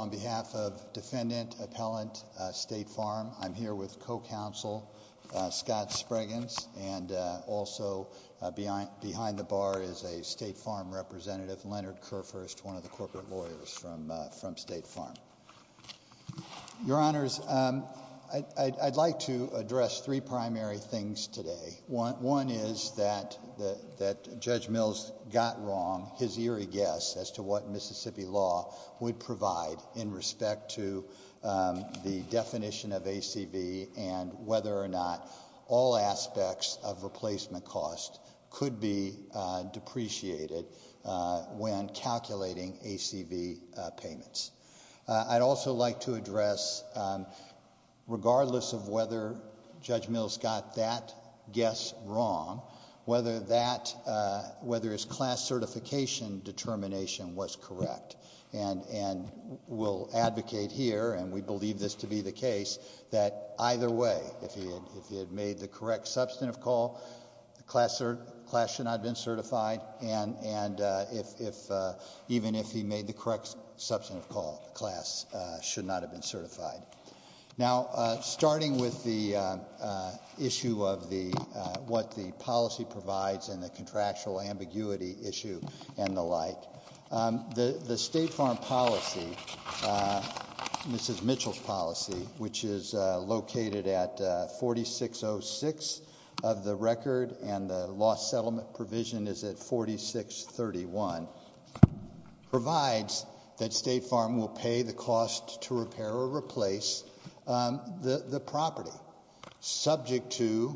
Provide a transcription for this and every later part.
On behalf of Defendant Appellant State Farm, I'm here with co-counsel Scott Spragans and also behind the bar is a State Farm representative, Leonard Kerfurst, one of the corporate lawyers from State Farm. Your Honors, I'd like to address three primary things today. One is that Judge Mills got wrong his eerie guess as to what Mississippi law would provide in respect to the definition of ACV and whether or not all aspects of replacement costs could be depreciated when calculating ACV payments. I'd also like to address, regardless of whether Judge Mills got that guess wrong, whether his class certification determination was correct. We'll advocate here, and we believe this to be the case, that either way, if he had made the correct substantive call, the class should not have been certified, and even if he made the correct substantive call, the class should not have been certified. Now starting with the issue of what the policy provides and the contractual ambiguity issue and the like, the State Farm policy, Mrs. Mitchell's policy, which is located at 4606 of the record and the law settlement provision is at 4631, provides that State Farm will pay the cost to repair or replace the property, subject to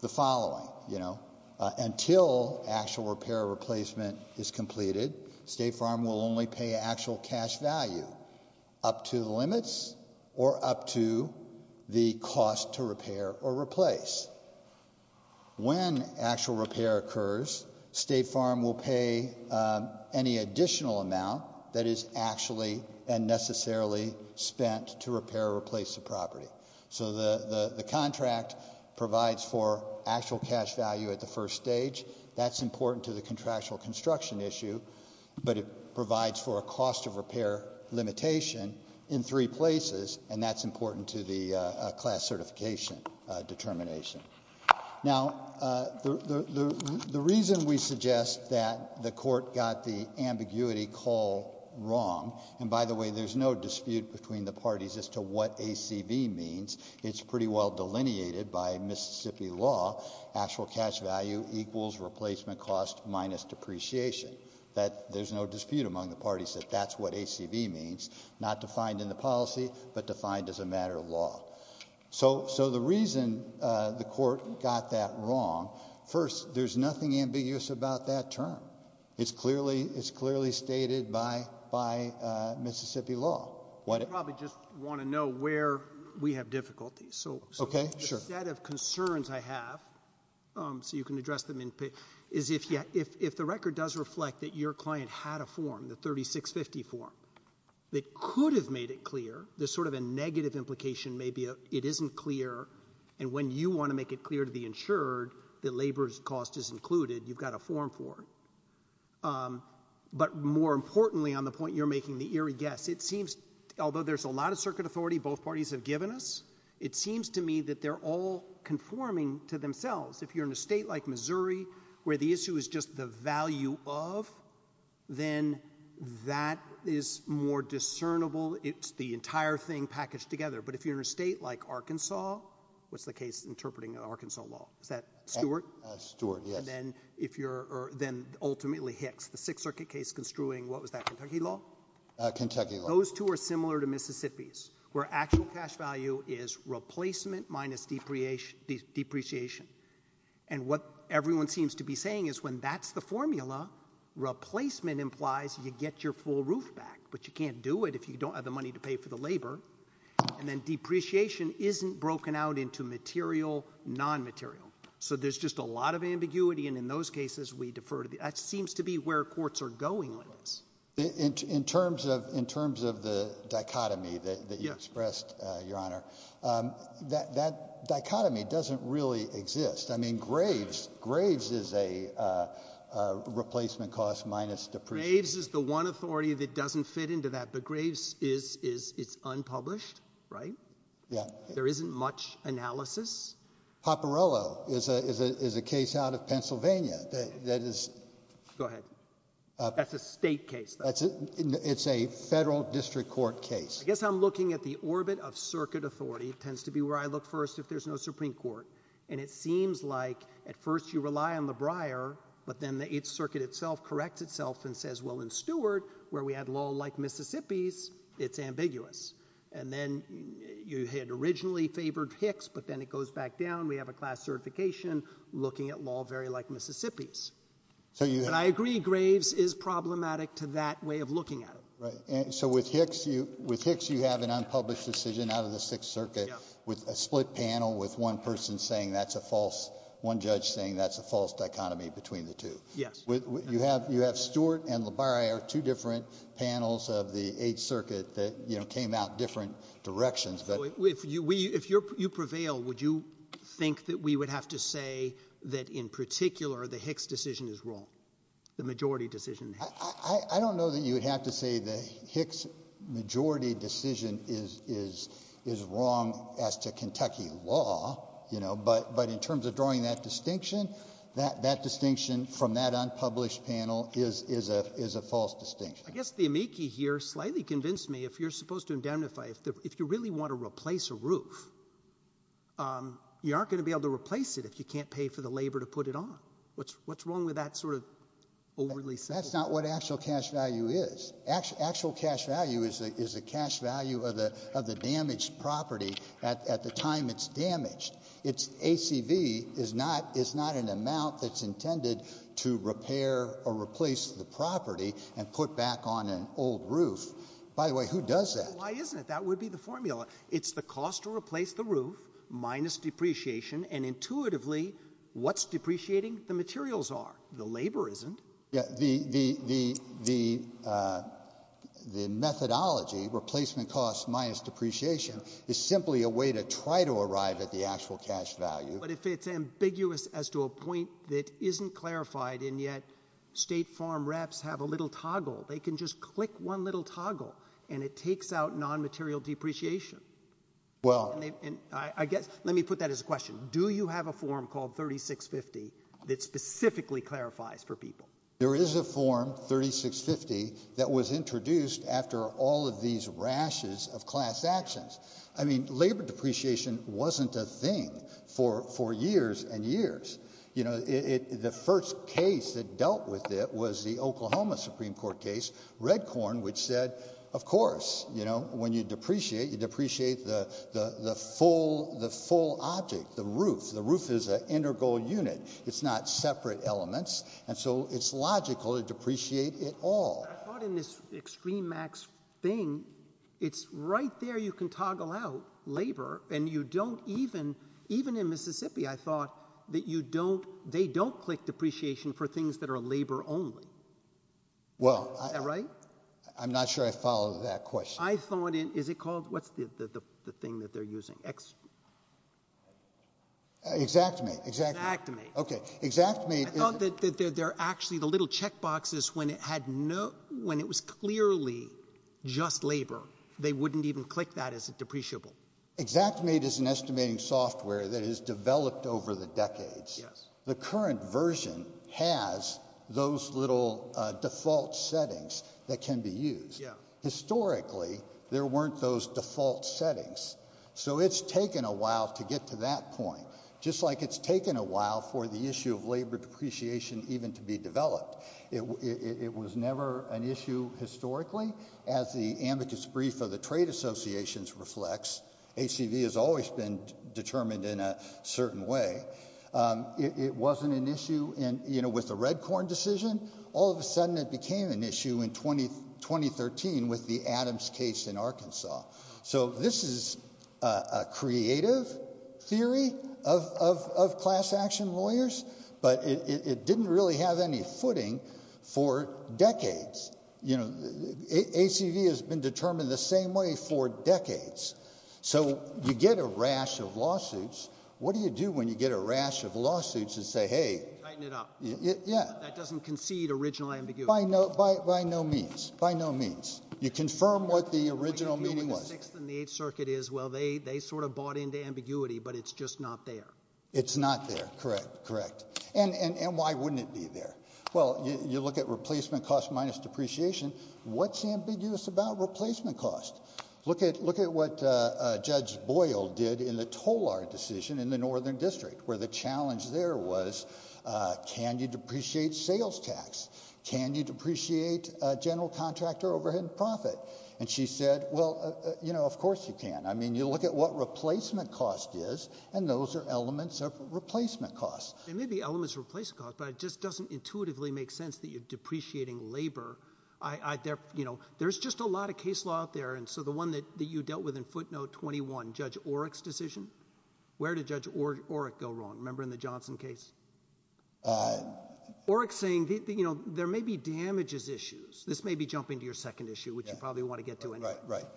the following, you know, until actual repair or replacement is completed, State Farm will only pay actual cash value up to the limits or up to the cost to repair or replace. When actual repair occurs, State Farm will pay any additional amount that is actually and necessarily spent to repair or replace the property. So the contract provides for actual cash value at the first stage. That's important to the contractual construction issue, but it provides for a cost of repair limitation in three places, and that's important to the class certification determination. Now the reason we suggest that the court got the ambiguity call wrong, and by the way, there's no dispute between the parties as to what ACV means. It's pretty well delineated by Mississippi law, actual cash value equals replacement cost minus depreciation. That there's no dispute among the parties that that's what ACV means, not defined in the policy, but defined as a matter of law. So the reason the court got that wrong, first, there's nothing ambiguous about that term. It's clearly stated by Mississippi law. You probably just want to know where we have difficulties. Okay, sure. One set of concerns I have, so you can address them, is if the record does reflect that your client had a form, the 3650 form, that could have made it clear, there's sort of a negative implication, maybe it isn't clear, and when you want to make it clear to the insured that labor cost is included, you've got a form for it. But more importantly, on the point you're making, the eerie guess, it seems, although there's a lot of circuit authority both parties have given us, it seems to me that they're all conforming to themselves. If you're in a state like Missouri, where the issue is just the value of, then that is more discernible, it's the entire thing packaged together. But if you're in a state like Arkansas, what's the case interpreting Arkansas law, is that Stewart? Stewart, yes. And then if you're, or then ultimately Hicks, the Sixth Circuit case construing, what was that, Kentucky law? Kentucky law. Those two are similar to Mississippi's, where actual cash value is replacement minus depreciation. And what everyone seems to be saying is when that's the formula, replacement implies you get your full roof back, but you can't do it if you don't have the money to pay for the labor. And then depreciation isn't broken out into material, non-material. So there's just a lot of ambiguity, and in those cases we defer to the, that seems to be where courts are going with this. In terms of the dichotomy that you expressed, Your Honor, that dichotomy doesn't really exist. I mean, Graves, Graves is a replacement cost minus depreciation. Graves is the one authority that doesn't fit into that, but Graves is, it's unpublished, right? Yeah. There isn't much analysis. Popperello is a case out of Pennsylvania that is... Go ahead. That's a state case, though. It's a federal district court case. I guess I'm looking at the orbit of circuit authority. It tends to be where I look first if there's no Supreme Court. And it seems like at first you rely on the briar, but then the 8th Circuit itself corrects itself and says, well, in Stewart, where we had law like Mississippi's, it's ambiguous. And then you had originally favored Hicks, but then it goes back down. We have a class certification looking at law very like Mississippi's. I agree Graves is problematic to that way of looking at it. So with Hicks, you have an unpublished decision out of the 6th Circuit with a split panel with one person saying that's a false, one judge saying that's a false dichotomy between the two. Yes. You have Stewart and LaBarre are two different panels of the 8th Circuit that came out different directions. If you prevail, would you think that we would have to say that in particular the Hicks decision is wrong? The majority decision? I don't know that you would have to say the Hicks majority decision is wrong as to Kentucky law, you know, but in terms of drawing that distinction, that distinction from that unpublished panel is a false distinction. I guess the amici here slightly convinced me if you're supposed to indemnify, if you really want to replace a roof, you aren't going to be able to replace it if you can't pay for the labor to put it on. What's wrong with that sort of overly simple? That's not what actual cash value is. Actual cash value is the cash value of the damaged property at the time it's damaged. It's ACV is not an amount that's intended to repair or replace the property and put back on an old roof. By the way, who does that? Why isn't it? That would be the formula. It's the cost to replace the roof minus depreciation and intuitively what's depreciating the materials are. The labor isn't. Yeah, the, the, the, the, uh, the methodology replacement costs minus depreciation is simply a way to try to arrive at the actual cash value, but if it's ambiguous as to a point that isn't clarified and yet state farm reps have a little toggle, they can just click one little toggle and it takes out non-material depreciation. Well, and I guess, let me put that as a question. Do you have a form called 3650 that specifically clarifies for people? There is a form 3650 that was introduced after all of these rashes of class actions. I mean, labor depreciation wasn't a thing for, for years and years. You know, it, the first case that dealt with it was the Oklahoma Supreme Court case. Red corn, which said, of course, you know, when you depreciate, you depreciate the, the, the full, the full object, the roof, the roof is an integral unit. It's not separate elements. And so it's logical to depreciate it all. I thought in this extreme max thing, it's right there. You can toggle out labor and you don't even, even in Mississippi, I thought that you don't, they don't click depreciation for things that are labor only. Well, I, I'm not sure I followed that question. I thought it, is it called, what's the, the, the, the thing that they're using? X, Xactimate, Xactimate. Okay. Xactimate is, I thought that they're, they're actually the little check boxes when it had no, when it was clearly just labor, they wouldn't even click that as a depreciable. Xactimate is an estimating software that is developed over the decades. Yes. The current version has those little default settings that can be used. Yeah. Historically, there weren't those default settings. So it's taken a while to get to that point. Just like it's taken a while for the issue of labor depreciation even to be developed. It, it, it was never an issue historically as the amicus brief of the trade associations reflects. HCV has always been determined in a certain way. It, it wasn't an issue in, you know, with the Redcorn decision. All of a sudden it became an issue in 20, 2013 with the Adams case in Arkansas. So this is a, a creative theory of, of, of class action lawyers. But it, it, it didn't really have any footing for decades. You know, HCV has been determined the same way for decades. So you get a rash of lawsuits. What do you do when you get a rash of lawsuits and say, hey. Tighten it up. Yeah. That doesn't concede original ambiguity. By no, by, by no means. By no means. You confirm what the original meaning was. Sixth and the Eighth Circuit is, well, they, they sort of bought into ambiguity, but it's just not there. It's not there. Correct. Correct. And, and, and why wouldn't it be there? Well, you, you look at replacement cost minus depreciation. What's ambiguous about replacement cost? Look at, look at what Judge Boyle did in the Tolar decision in the Northern District, where the challenge there was can you depreciate sales tax? Can you depreciate general contractor overhead and profit? And she said, well, you know, of course you can. I mean, you look at what replacement cost is, and those are elements of replacement cost. They may be elements of replacement cost, but it just doesn't intuitively make sense that you're depreciating labor. I, I, there, you know, there's just a lot of case law out there. And so the one that, that you dealt with in footnote 21, Judge Oreck's decision, where did Judge Oreck go wrong? Remember in the Johnson case? Oreck saying, you know, there may be damages issues. This may be jumping to your second issue, which you probably want to get to anyway. Right, right.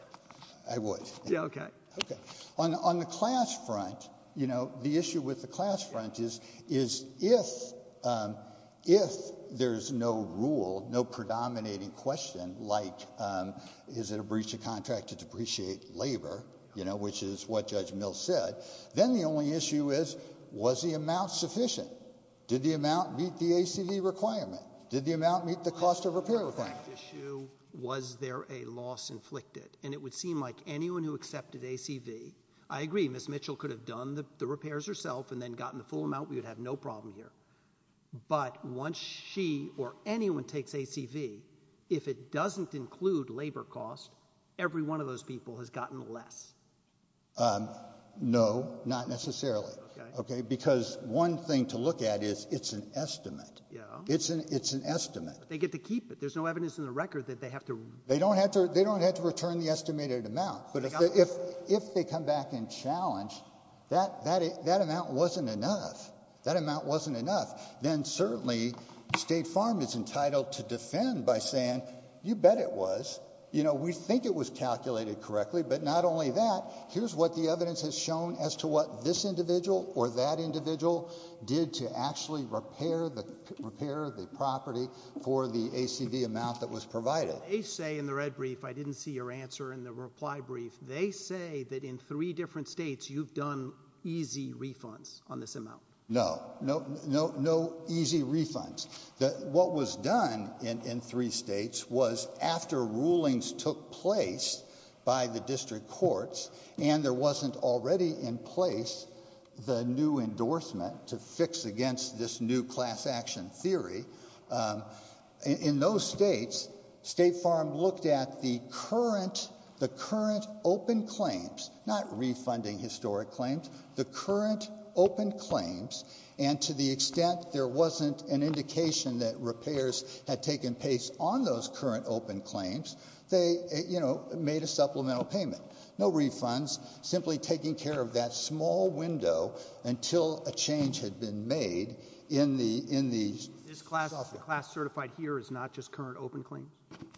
I would. Yeah, okay. Okay. On, on the class front, you know, the issue with the class front is, is if, if there's no rule, no predominating question, like, um, is it a breach of contract to depreciate labor? You know, which is what Judge Mills said. Then the only issue is, was the amount sufficient? Did the amount meet the ACV requirement? Did the amount meet the cost of repair requirement? Issue, was there a loss inflicted? And it would seem like anyone who accepted ACV, I agree, Ms. Mitchell could have done the repairs herself and then gotten the full amount. We would have no problem here. But once she or anyone takes ACV, if it doesn't include labor costs, every one of those people has gotten less. Um, no, not necessarily. Okay. Because one thing to look at is it's an estimate. Yeah. It's an, it's an estimate. They get to keep it. There's no evidence in the record that they have to. They don't have to, they don't have to return the estimated amount. But if, if, if they come back and challenge that, that, that amount wasn't enough. That amount wasn't enough. Then certainly State Farm is entitled to defend by saying, you bet it was, you know, we think it was calculated correctly, but not only that, here's what the evidence has shown as to what this individual or that individual did to actually repair the, repair the property for the ACV amount that was provided. They say in the red brief, I didn't see your answer in the reply brief. They say that in three different states, you've done easy refunds on this amount. No, no, no, no easy refunds. That what was done in, in three states was after rulings took place by the district courts and there wasn't already in place the new endorsement to fix against this new class action theory in those states, State Farm looked at the current, the current open claims, not refunding historic claims, the current open claims. And to the extent there wasn't an indication that repairs had taken pace on those current open claims, they, you know, made a supplemental payment, no refunds, simply taking care of that small window until a change had been made in the, in the. This class, the class certified here is not just current open claim?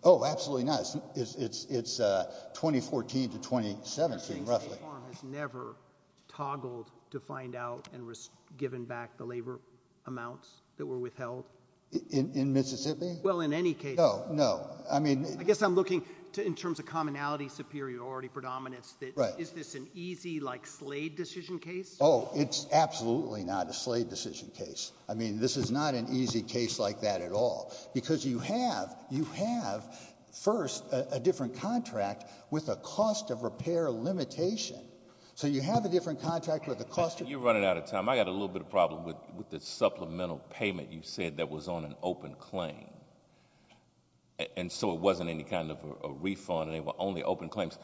Oh, absolutely not. It's, it's, it's, uh, 2014 to 2017, roughly. State Farm has never toggled to find out and given back the labor amounts that were withheld? In, in Mississippi? Well, in any case. No, no. I mean. I guess I'm looking to, in terms of commonality, superiority, predominance, that is this an easy like Slade decision case? Oh, it's absolutely not a Slade decision case. I mean, this is not an easy case like that at all because you have, you have first a different contract with a cost of repair limitation. So you have a different contract with the cost. You're running out of time. I got a little bit of problem with, with the supplemental payment you said that was on an open claim. And so it wasn't any kind of a refund and they were only open claims.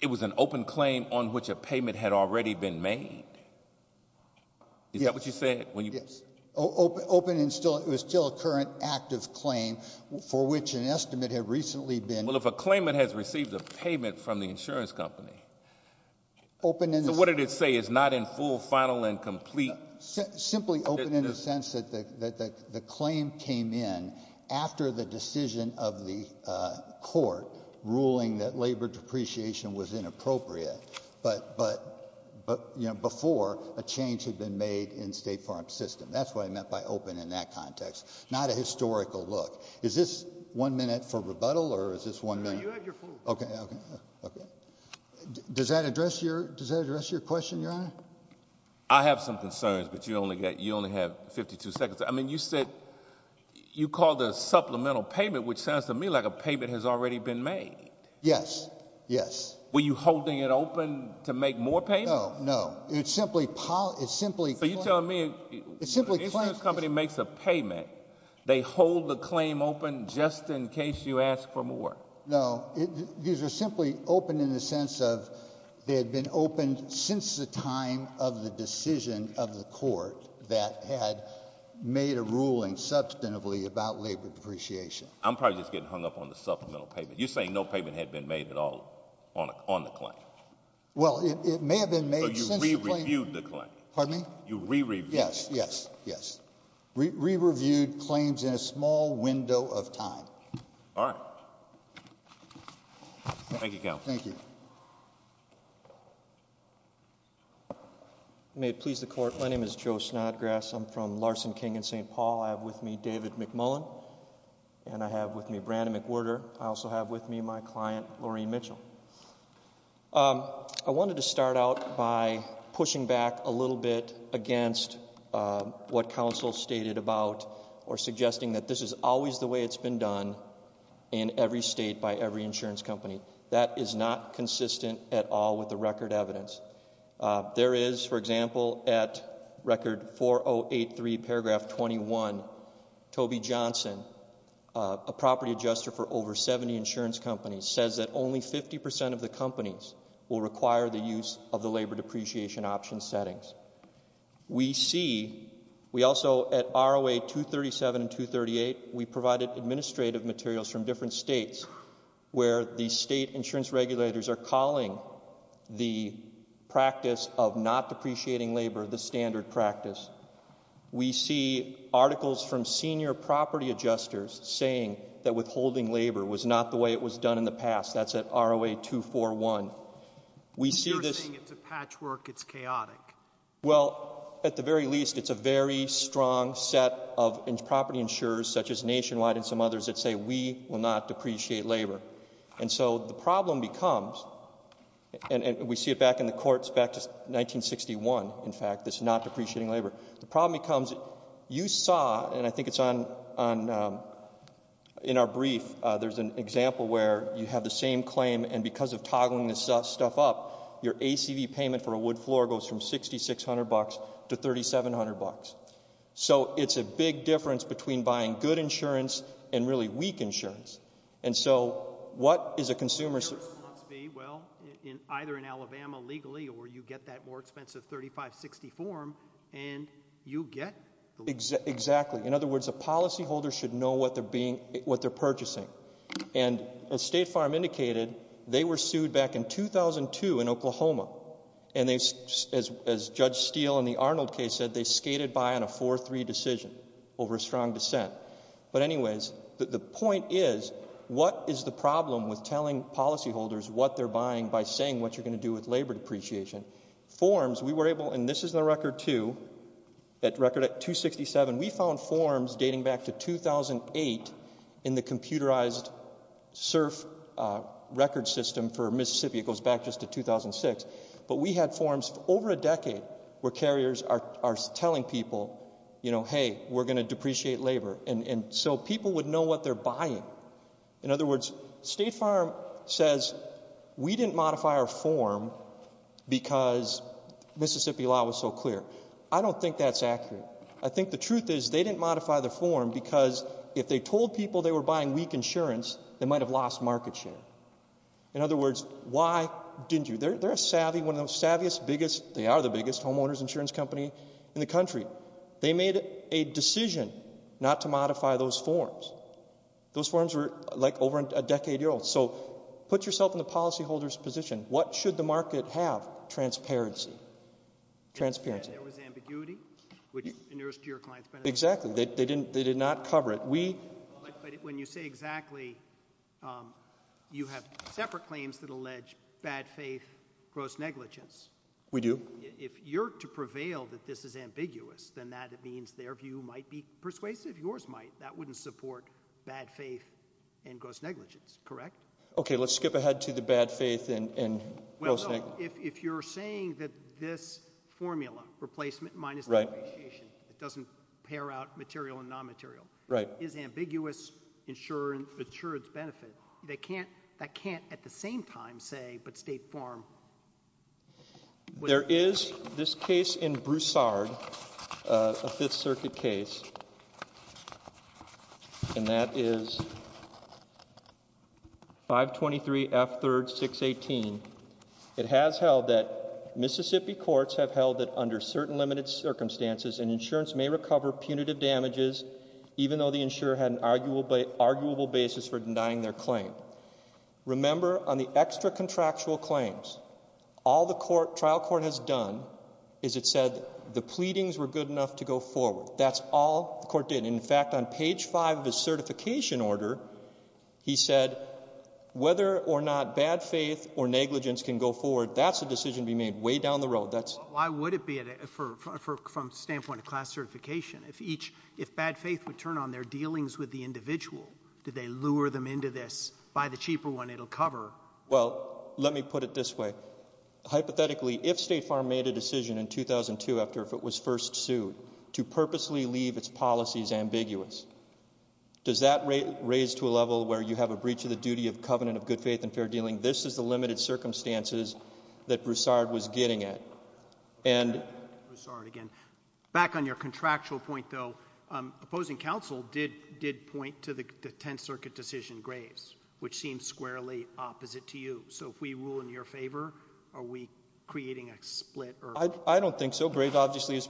It was an open claim on which a payment had already been made. Is that what you said? Yes. Open and still, it was still a current active claim for which an estimate had recently been. Well, if a claimant has received a payment from the insurance company. Open and. So what did it say? It's not in full, final and complete. Simply open in the sense that the, that the claim came in after the decision of the court ruling that labor depreciation was inappropriate. But, but, but, you know, before a change had been made in state farm system. That's what I meant by open in that context. Not a historical look. Is this one minute for rebuttal or is this one minute? Okay. Does that address your, does that address your question, your honor? I have some concerns, but you only get, you only have 52 seconds. I mean, you said you call the supplemental payment, which sounds to me like a payment has already been made. Yes. Yes. Were you holding it open to make more pay? No, no. It's simply, it's simply. So you're telling me the insurance company makes a payment. They hold the claim open just in case you ask for more. No, these are simply open in the sense of they had been opened since the time of the decision of the court that had made a ruling substantively about labor depreciation. I'm probably just getting hung up on the supplemental payment. You're saying no payment had been made at all on the claim. Well, it may have been made. So you re-reviewed the claim. Pardon me? You re-reviewed. Yes, yes, yes. Re-reviewed claims in a small window of time. All right. Thank you, counsel. Thank you. May it please the court. My name is Joe Snodgrass. I'm from Larson King in St. Paul. I have with me David McMullen and I have with me Brandon McWhorter. I also have with me my client, Lorene Mitchell. I wanted to start out by pushing back a little bit against what counsel stated about or suggesting that this is always the way it's been done in every state by every insurance company. That is not consistent at all with the record evidence. There is, for example, at record 4083 paragraph 21, Toby Johnson, a property adjuster for over 70 insurance companies, says that only 50 percent of the companies will require the use of the labor depreciation option settings. We see, we also at ROA 237 and 238, we provided administrative materials from different states where the state insurance regulators are calling the practice of not depreciating labor the standard practice. We see articles from senior property adjusters saying that withholding labor was not the way it was done in the past. That's at ROA 241. We see this. You're saying it's a patchwork. It's chaotic. Well, at the very least, it's a very strong set of property insurers such as Nationwide and some others that say we will not depreciate labor. And so the problem becomes, and we see it back in the courts back to 1961, in fact, it's not depreciating labor. The problem becomes, you saw, and I think it's on, in our brief, there's an example where you have the same claim and because of toggling this stuff up, your ACV payment for a wood floor goes from 6,600 bucks to 3,700 bucks. So it's a big difference between buying good insurance and really weak insurance. And so what is a consumer? Well, in either in Alabama legally, or you get that more expensive 3560 form and you get. Exactly. In other words, a policyholder should know what they're being, what they're purchasing. And as State Farm indicated, they were sued back in 2002 in Oklahoma. And they, as Judge Steele in the Arnold case said, they skated by on a 4-3 decision over a strong dissent. But anyways, the point is, what is the problem with telling policyholders what they're buying by saying what you're going to do with labor depreciation? Forms, we were able, and this is the record too, that record at 267, we found forms dating back to 2008 in the computerized surf record system for Mississippi. It goes back just to 2006. But we had forms over a decade where carriers are telling people, you know, hey, we're going to depreciate labor. And so people would know what they're buying. In other words, State Farm says we didn't modify our form because Mississippi law was so clear. I don't think that's accurate. I think the truth is they didn't modify the form because if they told people they were buying weak insurance, they might have lost market share. In other words, why didn't you? They're a savvy, one of the savviest, biggest, they are the biggest homeowners insurance company in the country. They made a decision not to modify those forms. Those forms were like over a decade old. So put yourself in the policyholder's position. What should the market have? Transparency. Transparency. There was ambiguity, which inures to your client's benefit. Exactly. They didn't, they did not cover it. We. When you say exactly, you have separate claims that allege bad faith, gross negligence. We do. If you're to prevail that this is ambiguous, then that means their view might be persuasive. Yours might. That wouldn't support bad faith and gross negligence, correct? Okay. Let's skip ahead to the bad faith and gross negligence. If you're saying that this formula, replacement minus depreciation, it doesn't pair out material and non-material. Right. Is ambiguous insurance insurance benefit. They can't, that can't at the same time say, but State Farm. There is this case in Broussard, a fifth circuit case, and that is 523 F 3rd 618. It has held that Mississippi courts have held that under certain limited circumstances, an insurance may recover punitive damages, even though the insurer had an arguable basis for denying their claim. Remember on the extra contractual claims, all the court trial court has done is it said the pleadings were good enough to go forward. That's all the court did. In fact, on page five of his certification order, he said, whether or not bad faith or negligence can go forward, that's a decision to be made way down the road. That's. Why would it be for, for, from standpoint of class certification? If each, if bad faith would turn on their dealings with the individual, did they lure them into this by the cheaper one? It'll cover. Well, let me put it this way. Hypothetically, if State Farm made a decision in 2002 after, if it was first sued to purposely leave its policies ambiguous, does that raise to a level where you have a breach of the duty of covenant of good faith and fair dealing? This is the limited circumstances that Broussard was getting it. And I'm sorry, again, back on your contractual point, though, opposing counsel did, did point to the 10th Circuit decision, Graves, which seems squarely opposite to you. So if we rule in your favor, are we creating a split? I, I don't think so. Graves obviously is,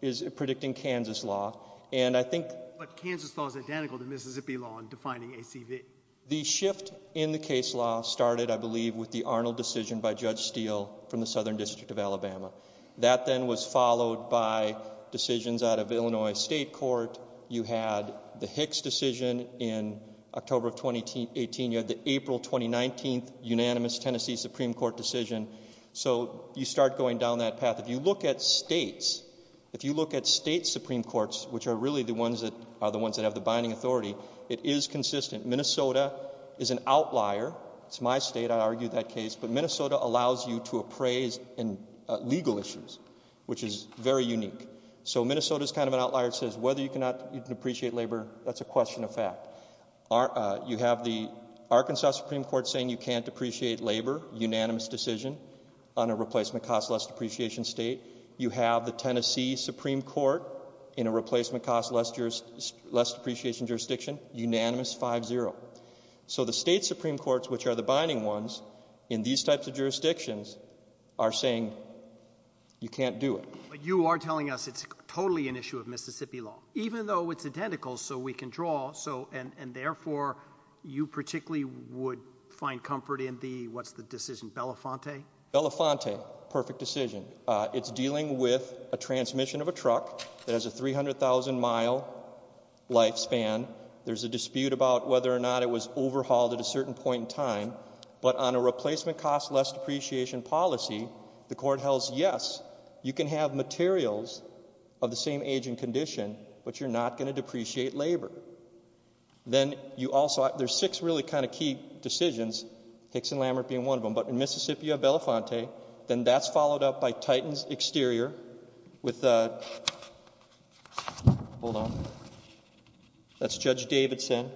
is predicting Kansas law. And I think. But Kansas law is identical to Mississippi law in defining ACV. The shift in the case law started, I believe, with the Arnold decision by Judge Steele from the Southern District of Alabama. That then was followed by decisions out of Illinois State Court. You had the Hicks decision in October of 2018. You had the April 2019 unanimous Tennessee Supreme Court decision. So you start going down that path. If you look at states, if you look at state Supreme Courts, which are really the ones that are the ones that have the binding authority, it is consistent. Minnesota is an outlier. It's my state. I argue that case. But Minnesota allows you to appraise in legal issues, which is very unique. So Minnesota is kind of an outlier. It says whether you cannot, you can appreciate labor. That's a question of fact. You have the Arkansas Supreme Court saying you can't appreciate labor. Unanimous decision on a replacement cost less depreciation state. You have the Tennessee Supreme Court in a replacement cost less, less depreciation jurisdiction. Unanimous 5-0. So the state Supreme Courts, which are the binding ones in these types of jurisdictions, are saying you can't do it. But you are telling us it's totally an issue of Mississippi law, even though it's identical, so we can draw. So, and therefore, you particularly would find comfort in the, what's the decision, Belafonte? Belafonte. Perfect decision. It's dealing with a transmission of a truck that has a 300,000 mile lifespan. There's a dispute about whether or not it was overhauled at a certain point in time. But on a replacement cost less depreciation policy, the court held, yes, you can have materials of the same age and condition, but you're not going to depreciate labor. Then you also, there's six really kind of key decisions, Hicks and Lammert being one of them, but in Mississippi you have Belafonte, then that's followed up by Titans Exterior with, hold on, that's Judge Davidson.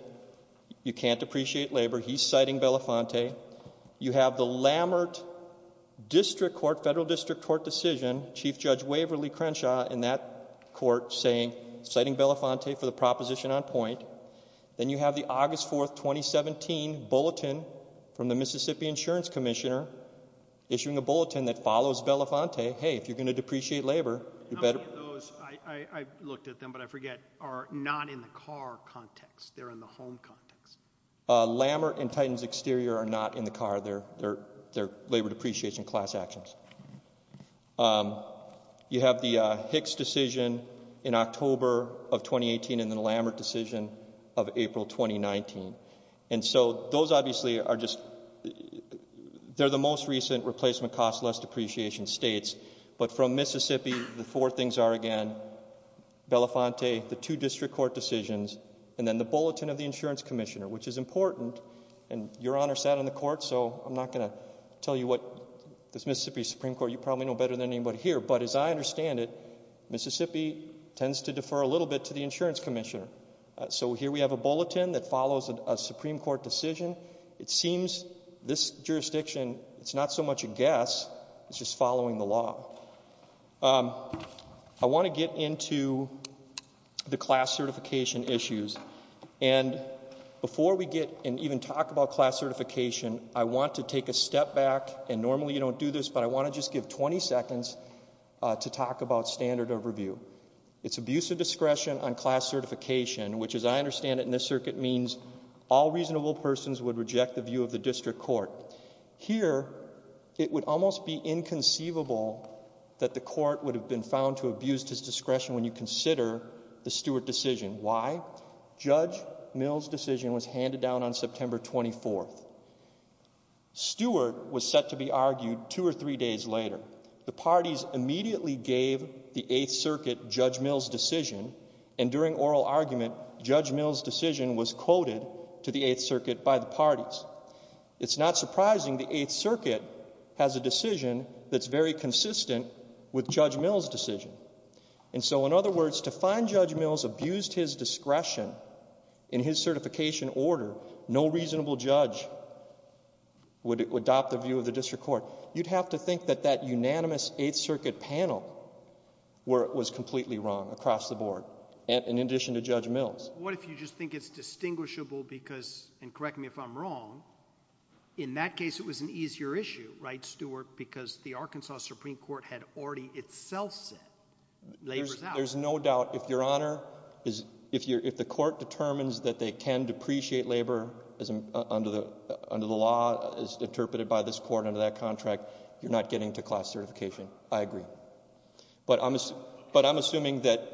You can't appreciate labor. He's citing Belafonte. You have the Lammert District Court, Federal District Court decision, Chief Judge Waverly Crenshaw in that court saying, citing Belafonte for the proposition on point. Then you have the August 4th, 2017 bulletin from the Mississippi Insurance Commissioner issuing a bulletin that follows Belafonte. Hey, if you're going to depreciate labor, you better— How many of those, I looked at them, but I forget, are not in the car context. They're in the home context. Lammert and Titans Exterior are not in the car. They're labor depreciation class actions. You have the Hicks decision in October of 2018 and then the Lammert decision of April 2019. And so those obviously are just, they're the most recent replacement cost less depreciation states, but from Mississippi, the four things are again, Belafonte, the two district court decisions, and then the bulletin of the insurance commissioner, which is important. And Your Honor sat on the court, so I'm not going to tell you what this Mississippi Supreme Court, you probably know better than anybody here. But as I understand it, Mississippi tends to defer a little bit to the insurance commissioner. So here we have a bulletin that follows a Supreme Court decision. It seems this jurisdiction, it's not so much a guess, it's just following the law. Um, I want to get into the class certification issues. And before we get and even talk about class certification, I want to take a step back and normally you don't do this, but I want to just give 20 seconds to talk about standard of review. It's abuse of discretion on class certification, which as I understand it in this circuit means all reasonable persons would reject the view of the district court. Here, it would almost be inconceivable that the court would have been found to abuse his discretion when you consider the Stewart decision. Why? Judge Mill's decision was handed down on September 24th. Stewart was set to be argued two or three days later. The parties immediately gave the Eighth Circuit Judge Mill's decision and during oral argument, Judge Mill's decision was quoted to the Eighth Circuit by the parties. It's not surprising the Eighth Circuit has a decision that's very consistent with Judge Mill's decision. And so in other words, to find Judge Mill's abused his discretion in his certification order, no reasonable judge would adopt the view of the district court. You'd have to think that that unanimous Eighth Circuit panel was completely wrong across the board and in addition to Judge Mill's. What if you just think it's distinguishable because, and correct me if I'm wrong, in that case it was an easier issue, right, Stewart, because the Arkansas Supreme Court had already itself said labor's out. There's no doubt. If your honor, if the court determines that they can depreciate labor under the law as interpreted by this court under that contract, you're not getting to class certification. I agree. But I'm, but I'm assuming that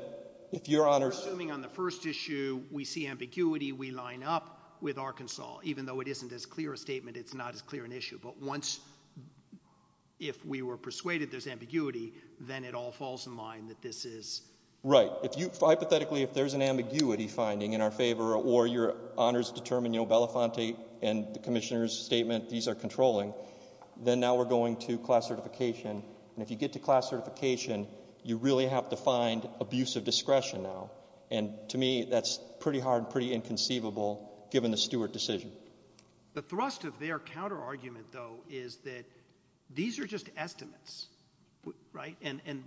if your honor. I'm assuming on the first issue we see ambiguity, we line up with Arkansas. Even though it isn't as clear a statement, it's not as clear an issue. But once, if we were persuaded there's ambiguity, then it all falls in line that this is. Right. If you, hypothetically, if there's an ambiguity finding in our favor or your honors determine, you know, Belafonte and the commissioner's statement, these are controlling, then now we're going to class certification. And if you get to class certification, you really have to find abusive discretion now. And to me, that's pretty hard, pretty inconceivable given the Stewart decision. The thrust of their counterargument, though, is that these are just estimates, right? And, and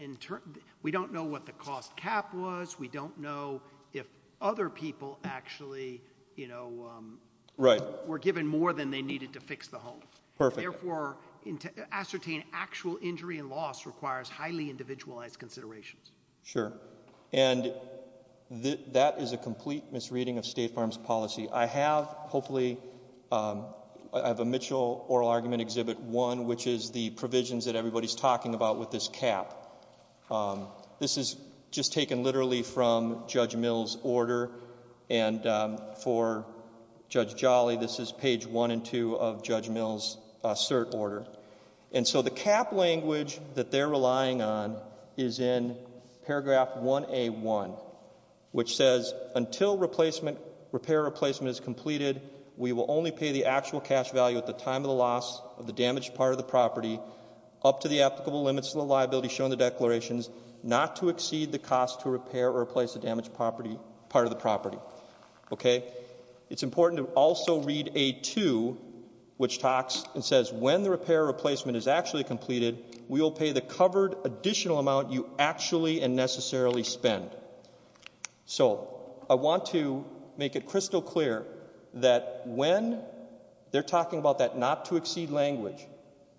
in turn, we don't know what the cost cap was. We don't know if other people actually, you know. Right. Were given more than they needed to fix the home. Perfect. Therefore, to ascertain actual injury and loss requires highly individualized considerations. Sure. And that is a complete misreading of State Farm's policy. I have, hopefully, I have a Mitchell oral argument exhibit one, which is the provisions that everybody's talking about with this cap. This is just taken literally from Judge Mill's order. And for Judge Jolly, this is page one and two of Judge Mill's cert order. And so the cap language that they're relying on is in paragraph 1A1, which says, until replacement, repair or replacement is completed, we will only pay the actual cash value at the time of the loss of the damaged part of the property up to the applicable limits of the liability shown in the declarations, not to exceed the cost to repair or replace the damaged property part of the property. Okay. It's important to also read A2, which talks and says when the repair replacement is actually completed, we will pay the covered additional amount you actually and necessarily spend. So I want to make it crystal clear that when they're talking about that not to exceed language,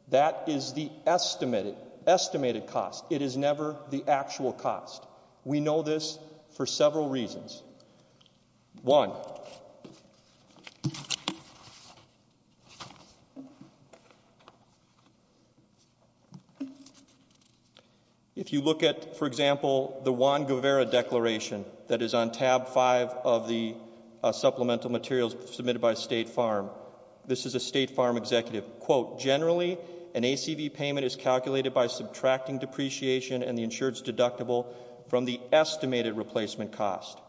that is the estimated estimated cost. It is never the actual cost. We know this for several reasons. One, if you look at, for example, the Juan Guevara declaration that is on tab five of the supplemental materials submitted by State Farm, this is a State Farm executive, quote, generally an ACV payment is calculated by subtracting depreciation and the insured's from the estimated replacement cost.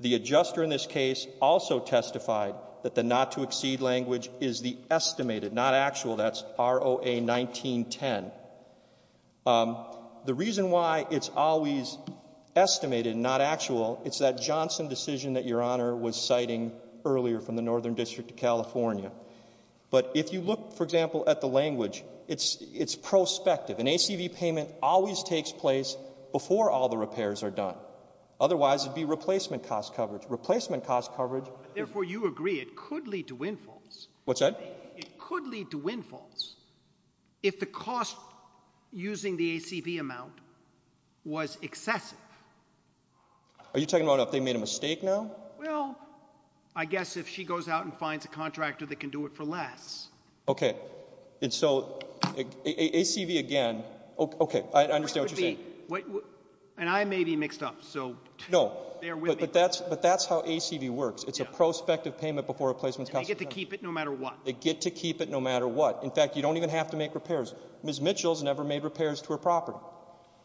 The adjuster in this case also testified that the not to exceed language is the estimated, not actual, that's ROA 1910. The reason why it's always estimated, not actual, it's that Johnson decision that Your Honor was citing earlier from the Northern District of California. But if you look, for example, at the language, it's prospective. An ACV payment always takes place before all the repairs are done. Otherwise, it'd be replacement cost coverage. Replacement cost coverage. Therefore, you agree it could lead to windfalls. What's that? It could lead to windfalls if the cost using the ACV amount was excessive. Are you talking about if they made a mistake now? Well, I guess if she goes out and finds a contractor that can do it for less. Okay, and so ACV again, okay, I understand what you're saying. And I may be mixed up, so. No, but that's how ACV works. It's a prospective payment before replacement cost. They get to keep it no matter what. They get to keep it no matter what. In fact, you don't even have to make repairs. Ms. Mitchell's never made repairs to her property,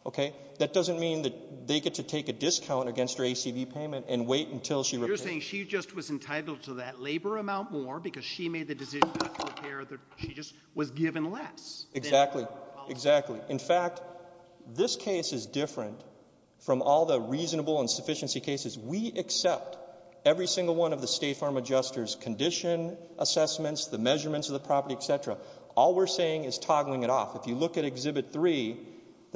okay? That doesn't mean that they get to take a discount against her ACV payment and wait until she repairs. You're saying she just was entitled to that labor amount more because she made the decision. She just was given less. Exactly, exactly. In fact, this case is different from all the reasonable insufficiency cases. We accept every single one of the State Farm Adjuster's condition assessments, the measurements of the property, etc. All we're saying is toggling it off. If you look at Exhibit 3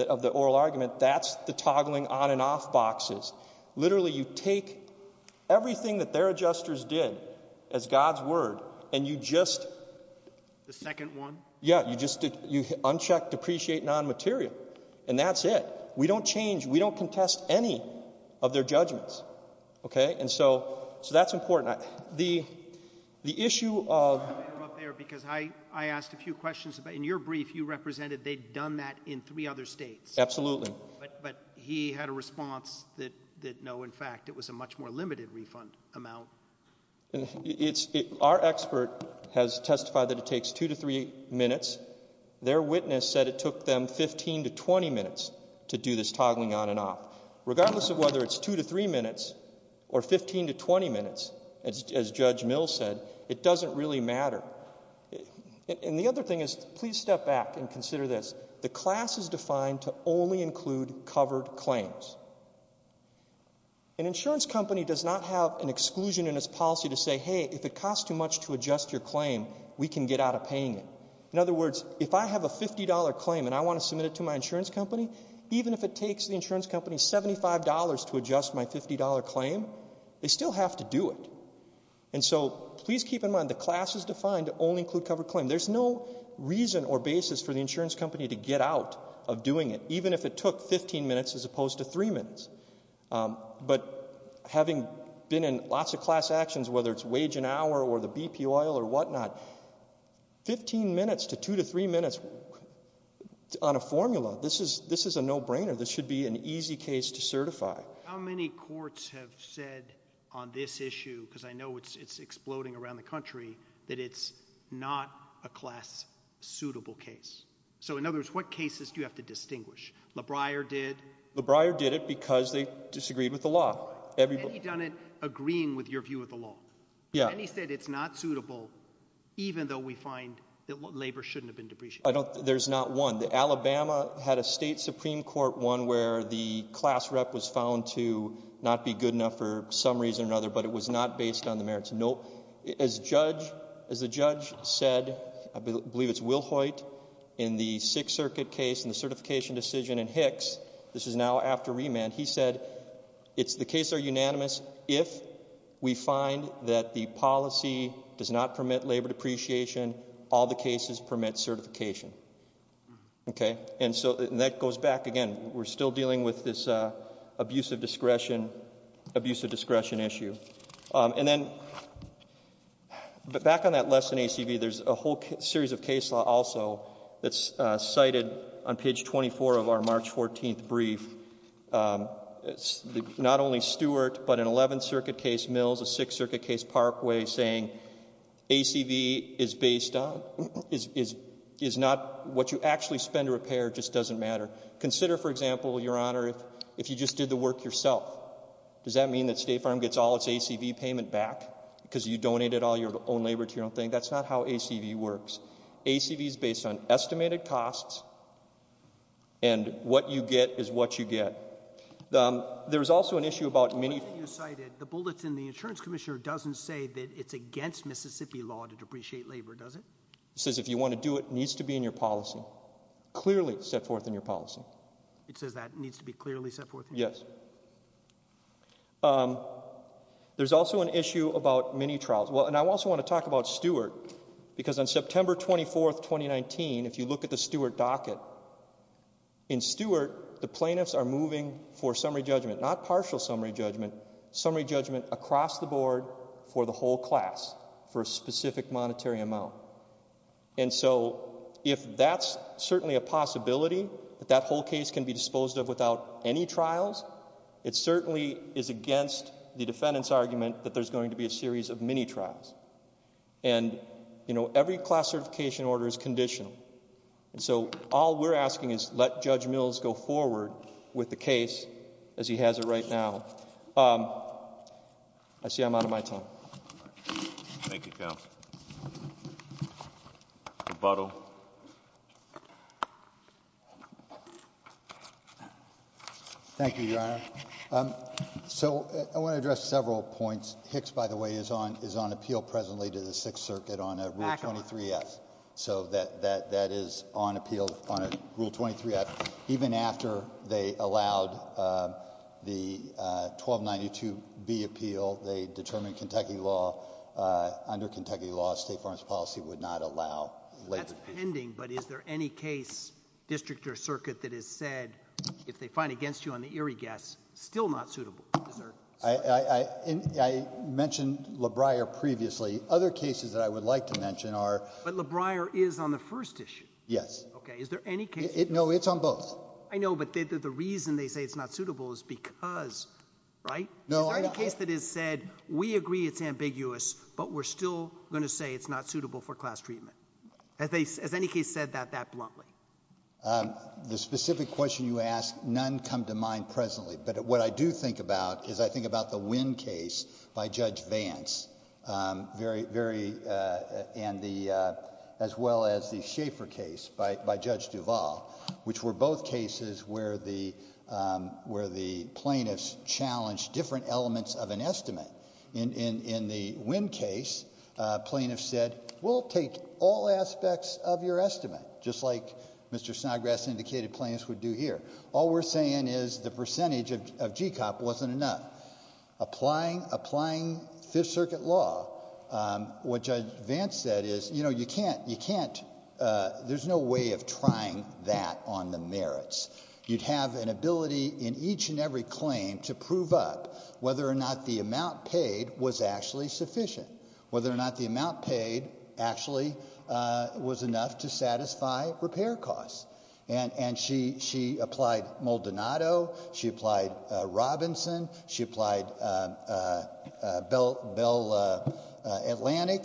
of the oral argument, that's the toggling on and off boxes. Literally, you take everything that their adjusters did as God's word, and you just— The second one? Yeah, you uncheck depreciate non-material, and that's it. We don't change. We don't contest any of their judgments, okay? And so that's important. The issue of— I'm going to interrupt there because I asked a few questions. In your brief, you represented they'd done that in three other states. Absolutely. But he had a response that, no, in fact, it was a much more limited refund amount. Our expert has testified that it takes two to three minutes. Their witness said it took them 15 to 20 minutes to do this toggling on and off. Regardless of whether it's two to three minutes or 15 to 20 minutes, as Judge Mills said, it doesn't really matter. And the other thing is, please step back and consider this. The class is defined to only include covered claims. An insurance company does not have an exclusion in its policy to say, hey, if it costs too much to adjust your claim, we can get out of paying it. In other words, if I have a $50 claim and I want to submit it to my insurance company, even if it takes the insurance company $75 to adjust my $50 claim, they still have to do it. And so please keep in mind the class is defined to only include covered claim. There's no reason or basis for the insurance company to get out of doing it, even if it took 15 minutes as opposed to three minutes. But having been in lots of class actions, whether it's wage an hour or the BP oil or whatnot, 15 minutes to two to three minutes on a formula, this is a no-brainer. This should be an easy case to certify. How many courts have said on this issue, because I know it's exploding around the country, that it's not a class-suitable case? So in other words, what cases do you have to distinguish? LeBreyer did. LeBreyer did it because they disagreed with the law. And he done it agreeing with your view of the law. Yeah. And he said it's not suitable, even though we find that labor shouldn't have been depreciated. There's not one. The Alabama had a state Supreme Court one where the class rep was found to not be good enough for some reason or another, but it was not based on the merits. As the judge said, I believe it's Wilhoite in the Sixth Circuit case, in the certification decision in Hicks, this is now after remand, he said the cases are unanimous if we find that the policy does not permit labor depreciation. All the cases permit certification. OK. And so that goes back again. We're still dealing with this abuse of discretion issue. And then back on that lesson ACV, there's a whole series of case law also that's cited on page 24 of our March 14th brief. Not only Stewart, but an 11th Circuit case, Mills, a Sixth Circuit case, Parkway saying ACV is based on, is not what you actually spend to repair, just doesn't matter. Consider, for example, Your Honor, if you just did the work yourself. Does that mean that State Farm gets all its ACV payment back? Because you donated all your own labor to your own thing? That's not how ACV works. ACV is based on estimated costs. And what you get is what you get. There was also an issue about many... The bullet in the insurance commissioner doesn't say that it's against Mississippi law to depreciate labor, does it? It says if you want to do it, it needs to be in your policy. Clearly set forth in your policy. It says that needs to be clearly set forth? Yes. Um, there's also an issue about many trials. Well, and I also want to talk about Stewart because on September 24th, 2019, if you look at the Stewart docket, in Stewart, the plaintiffs are moving for summary judgment, not partial summary judgment, summary judgment across the board for the whole class for a specific monetary amount. And so if that's certainly a possibility that that whole case can be disposed of without any trials, it certainly is against the defendant's argument that there's going to be a series of mini-trials. And, you know, every class certification order is conditional. And so all we're asking is let Judge Mills go forward with the case as he has it right now. I see I'm out of my time. Thank you, Counsel. Rebuttal. Thank you, Your Honor. So I want to address several points. Hicks, by the way, is on, is on appeal presently to the Sixth Circuit on a Rule 23 Act. So that, that, that is on appeal on a Rule 23 Act. Even after they allowed the 1292B appeal, they determined Kentucky law, under Kentucky law, State Farmers Policy would not allow. That's pending. But is there any case, district or circuit, that has said, if they find against you on the eerie guess, still not suitable? I, I, I, I mentioned LaBriere previously. Other cases that I would like to mention are. But LaBriere is on the first issue. Yes. Okay. Is there any case? No, it's on both. I know. But the reason they say it's not suitable is because, right? Is there any case that has said, we agree it's ambiguous, but we're still going to say it's not suitable for class treatment? Have they, has any case said that, that bluntly? Um, the specific question you asked, none come to mind presently. But what I do think about is, I think about the Winn case by Judge Vance. Um, very, very, uh, and the, uh, as well as the Schaefer case by, by Judge Duval, which were both cases where the, um, where the plaintiffs challenged different elements of an estimate. In, in, in the Winn case, uh, plaintiff said, we'll take all aspects of your estimate, just like Mr. Snodgrass indicated plaintiffs would do here. All we're saying is the percentage of, of GCOP wasn't enough. Applying, applying Fifth Circuit law, um, what Judge Vance said is, you know, you can't, you can't, uh, there's no way of trying that on the merits. You'd have an ability in each and every claim to prove up whether or not the amount paid was actually sufficient, whether or not the amount paid actually, uh, was enough to satisfy repair costs. And, and she, she applied Maldonado. She applied, uh, Robinson. She applied, uh, uh, uh, Bell, Bell, uh, uh, Atlantic,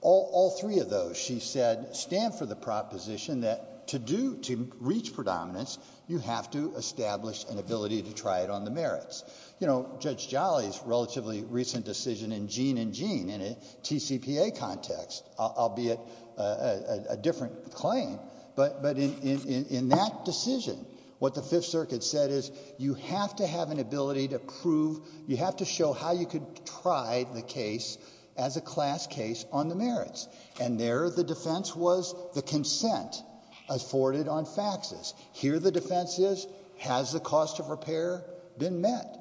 all, all three of those, she said stand for the proposition that to do, to reach predominance, you have to establish an ability to try it on the merits. You know, Judge Jolly's relatively recent decision in Jean and Jean in a TCPA context, albeit a, a, a different claim. But, but in, in, in that decision, what the Fifth Circuit said is you have to have an ability to prove, you have to show how you could try the case as a class case on the merits. And there, the defense was the consent afforded on faxes. Here, the defense is, has the cost of repair been met?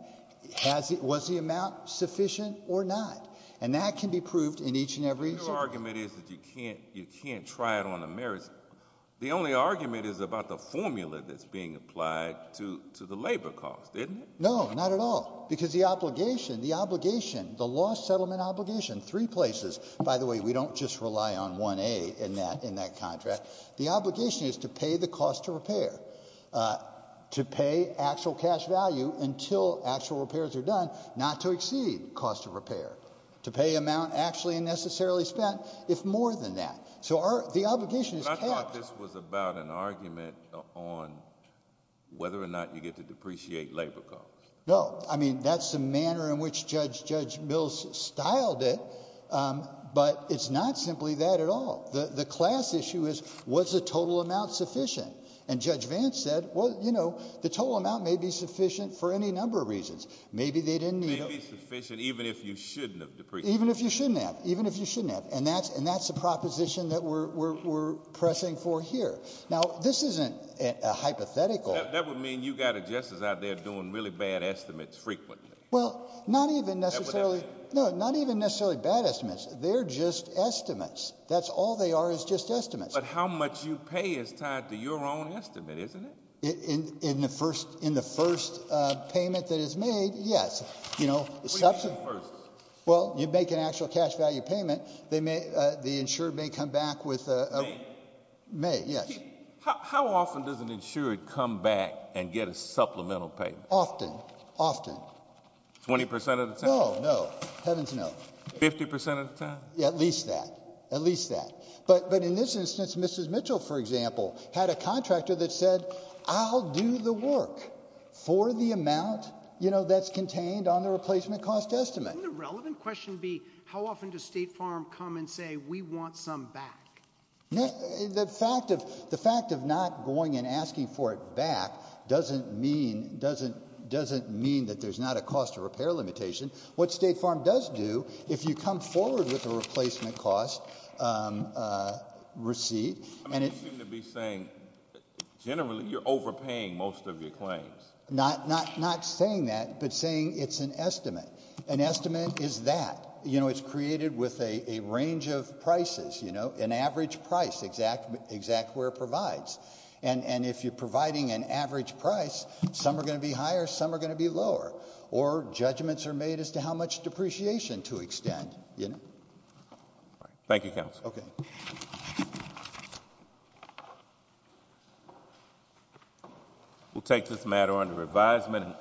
Has it, was the amount sufficient or not? And that can be proved in each and every issue. Your argument is that you can't, you can't try it on the merits. The only argument is about the formula that's being applied to, to the labor cost, isn't it? No, not at all. Because the obligation, the obligation, the law settlement obligation, three places, by the way, we don't just rely on 1A in that, in that contract. The obligation is to pay the cost of repair, uh, to pay actual cash value until actual repairs are done, not to exceed cost of repair. To pay amount actually and necessarily spent, if more than that. So our, the obligation is capped. But I thought this was about an argument on whether or not you get to depreciate labor costs. No. I mean, that's the manner in which Judge, Judge Mills styled it. Um, but it's not simply that at all. The, the class issue is, was the total amount sufficient? And Judge Vance said, well, you know, the total amount may be sufficient for any number of reasons. Maybe they didn't need it. Maybe sufficient even if you shouldn't have depreciated. Even if you shouldn't have. Even if you shouldn't have. And that's, and that's the proposition that we're, we're, we're pressing for here. Now, this isn't a hypothetical. That would mean you got a justice out there doing really bad estimates frequently. Well, not even necessarily. No, not even necessarily bad estimates. They're just estimates. That's all they are is just estimates. But how much you pay is tied to your own estimate, isn't it? In, in, in the first, in the first, uh, payment that is made. Yes. You know, well, you'd make an actual cash value payment. They may, uh, the insured may come back with, uh, may. How often does an insured come back and get a supplemental payment? Often. Often. 20% of the time? No, no. Heavens no. 50% of the time? At least that. At least that. But, but in this instance, Mrs. Mitchell, for example, had a contractor that said, I'll do the work for the amount, you know, that's contained on the replacement cost estimate. Wouldn't the relevant question be, how often does State Farm come and say, we want some back? No, the fact of, the fact of not going and asking for it back doesn't mean, doesn't, doesn't mean that there's not a cost of repair limitation. What State Farm does do, if you come forward with a replacement cost, um, uh, receipt. I mean, you seem to be saying generally you're overpaying most of your claims. Not, not, not saying that, but saying it's an estimate. An estimate is that, you know, it's created with a, a range of prices, you know, an average price, exact, exact where it provides. And, and if you're providing an average price, some are going to be higher, some are going to be lower. Or judgments are made as to how much depreciation to extend, you know. Thank you, counsel. Okay. We'll take this matter under advisement.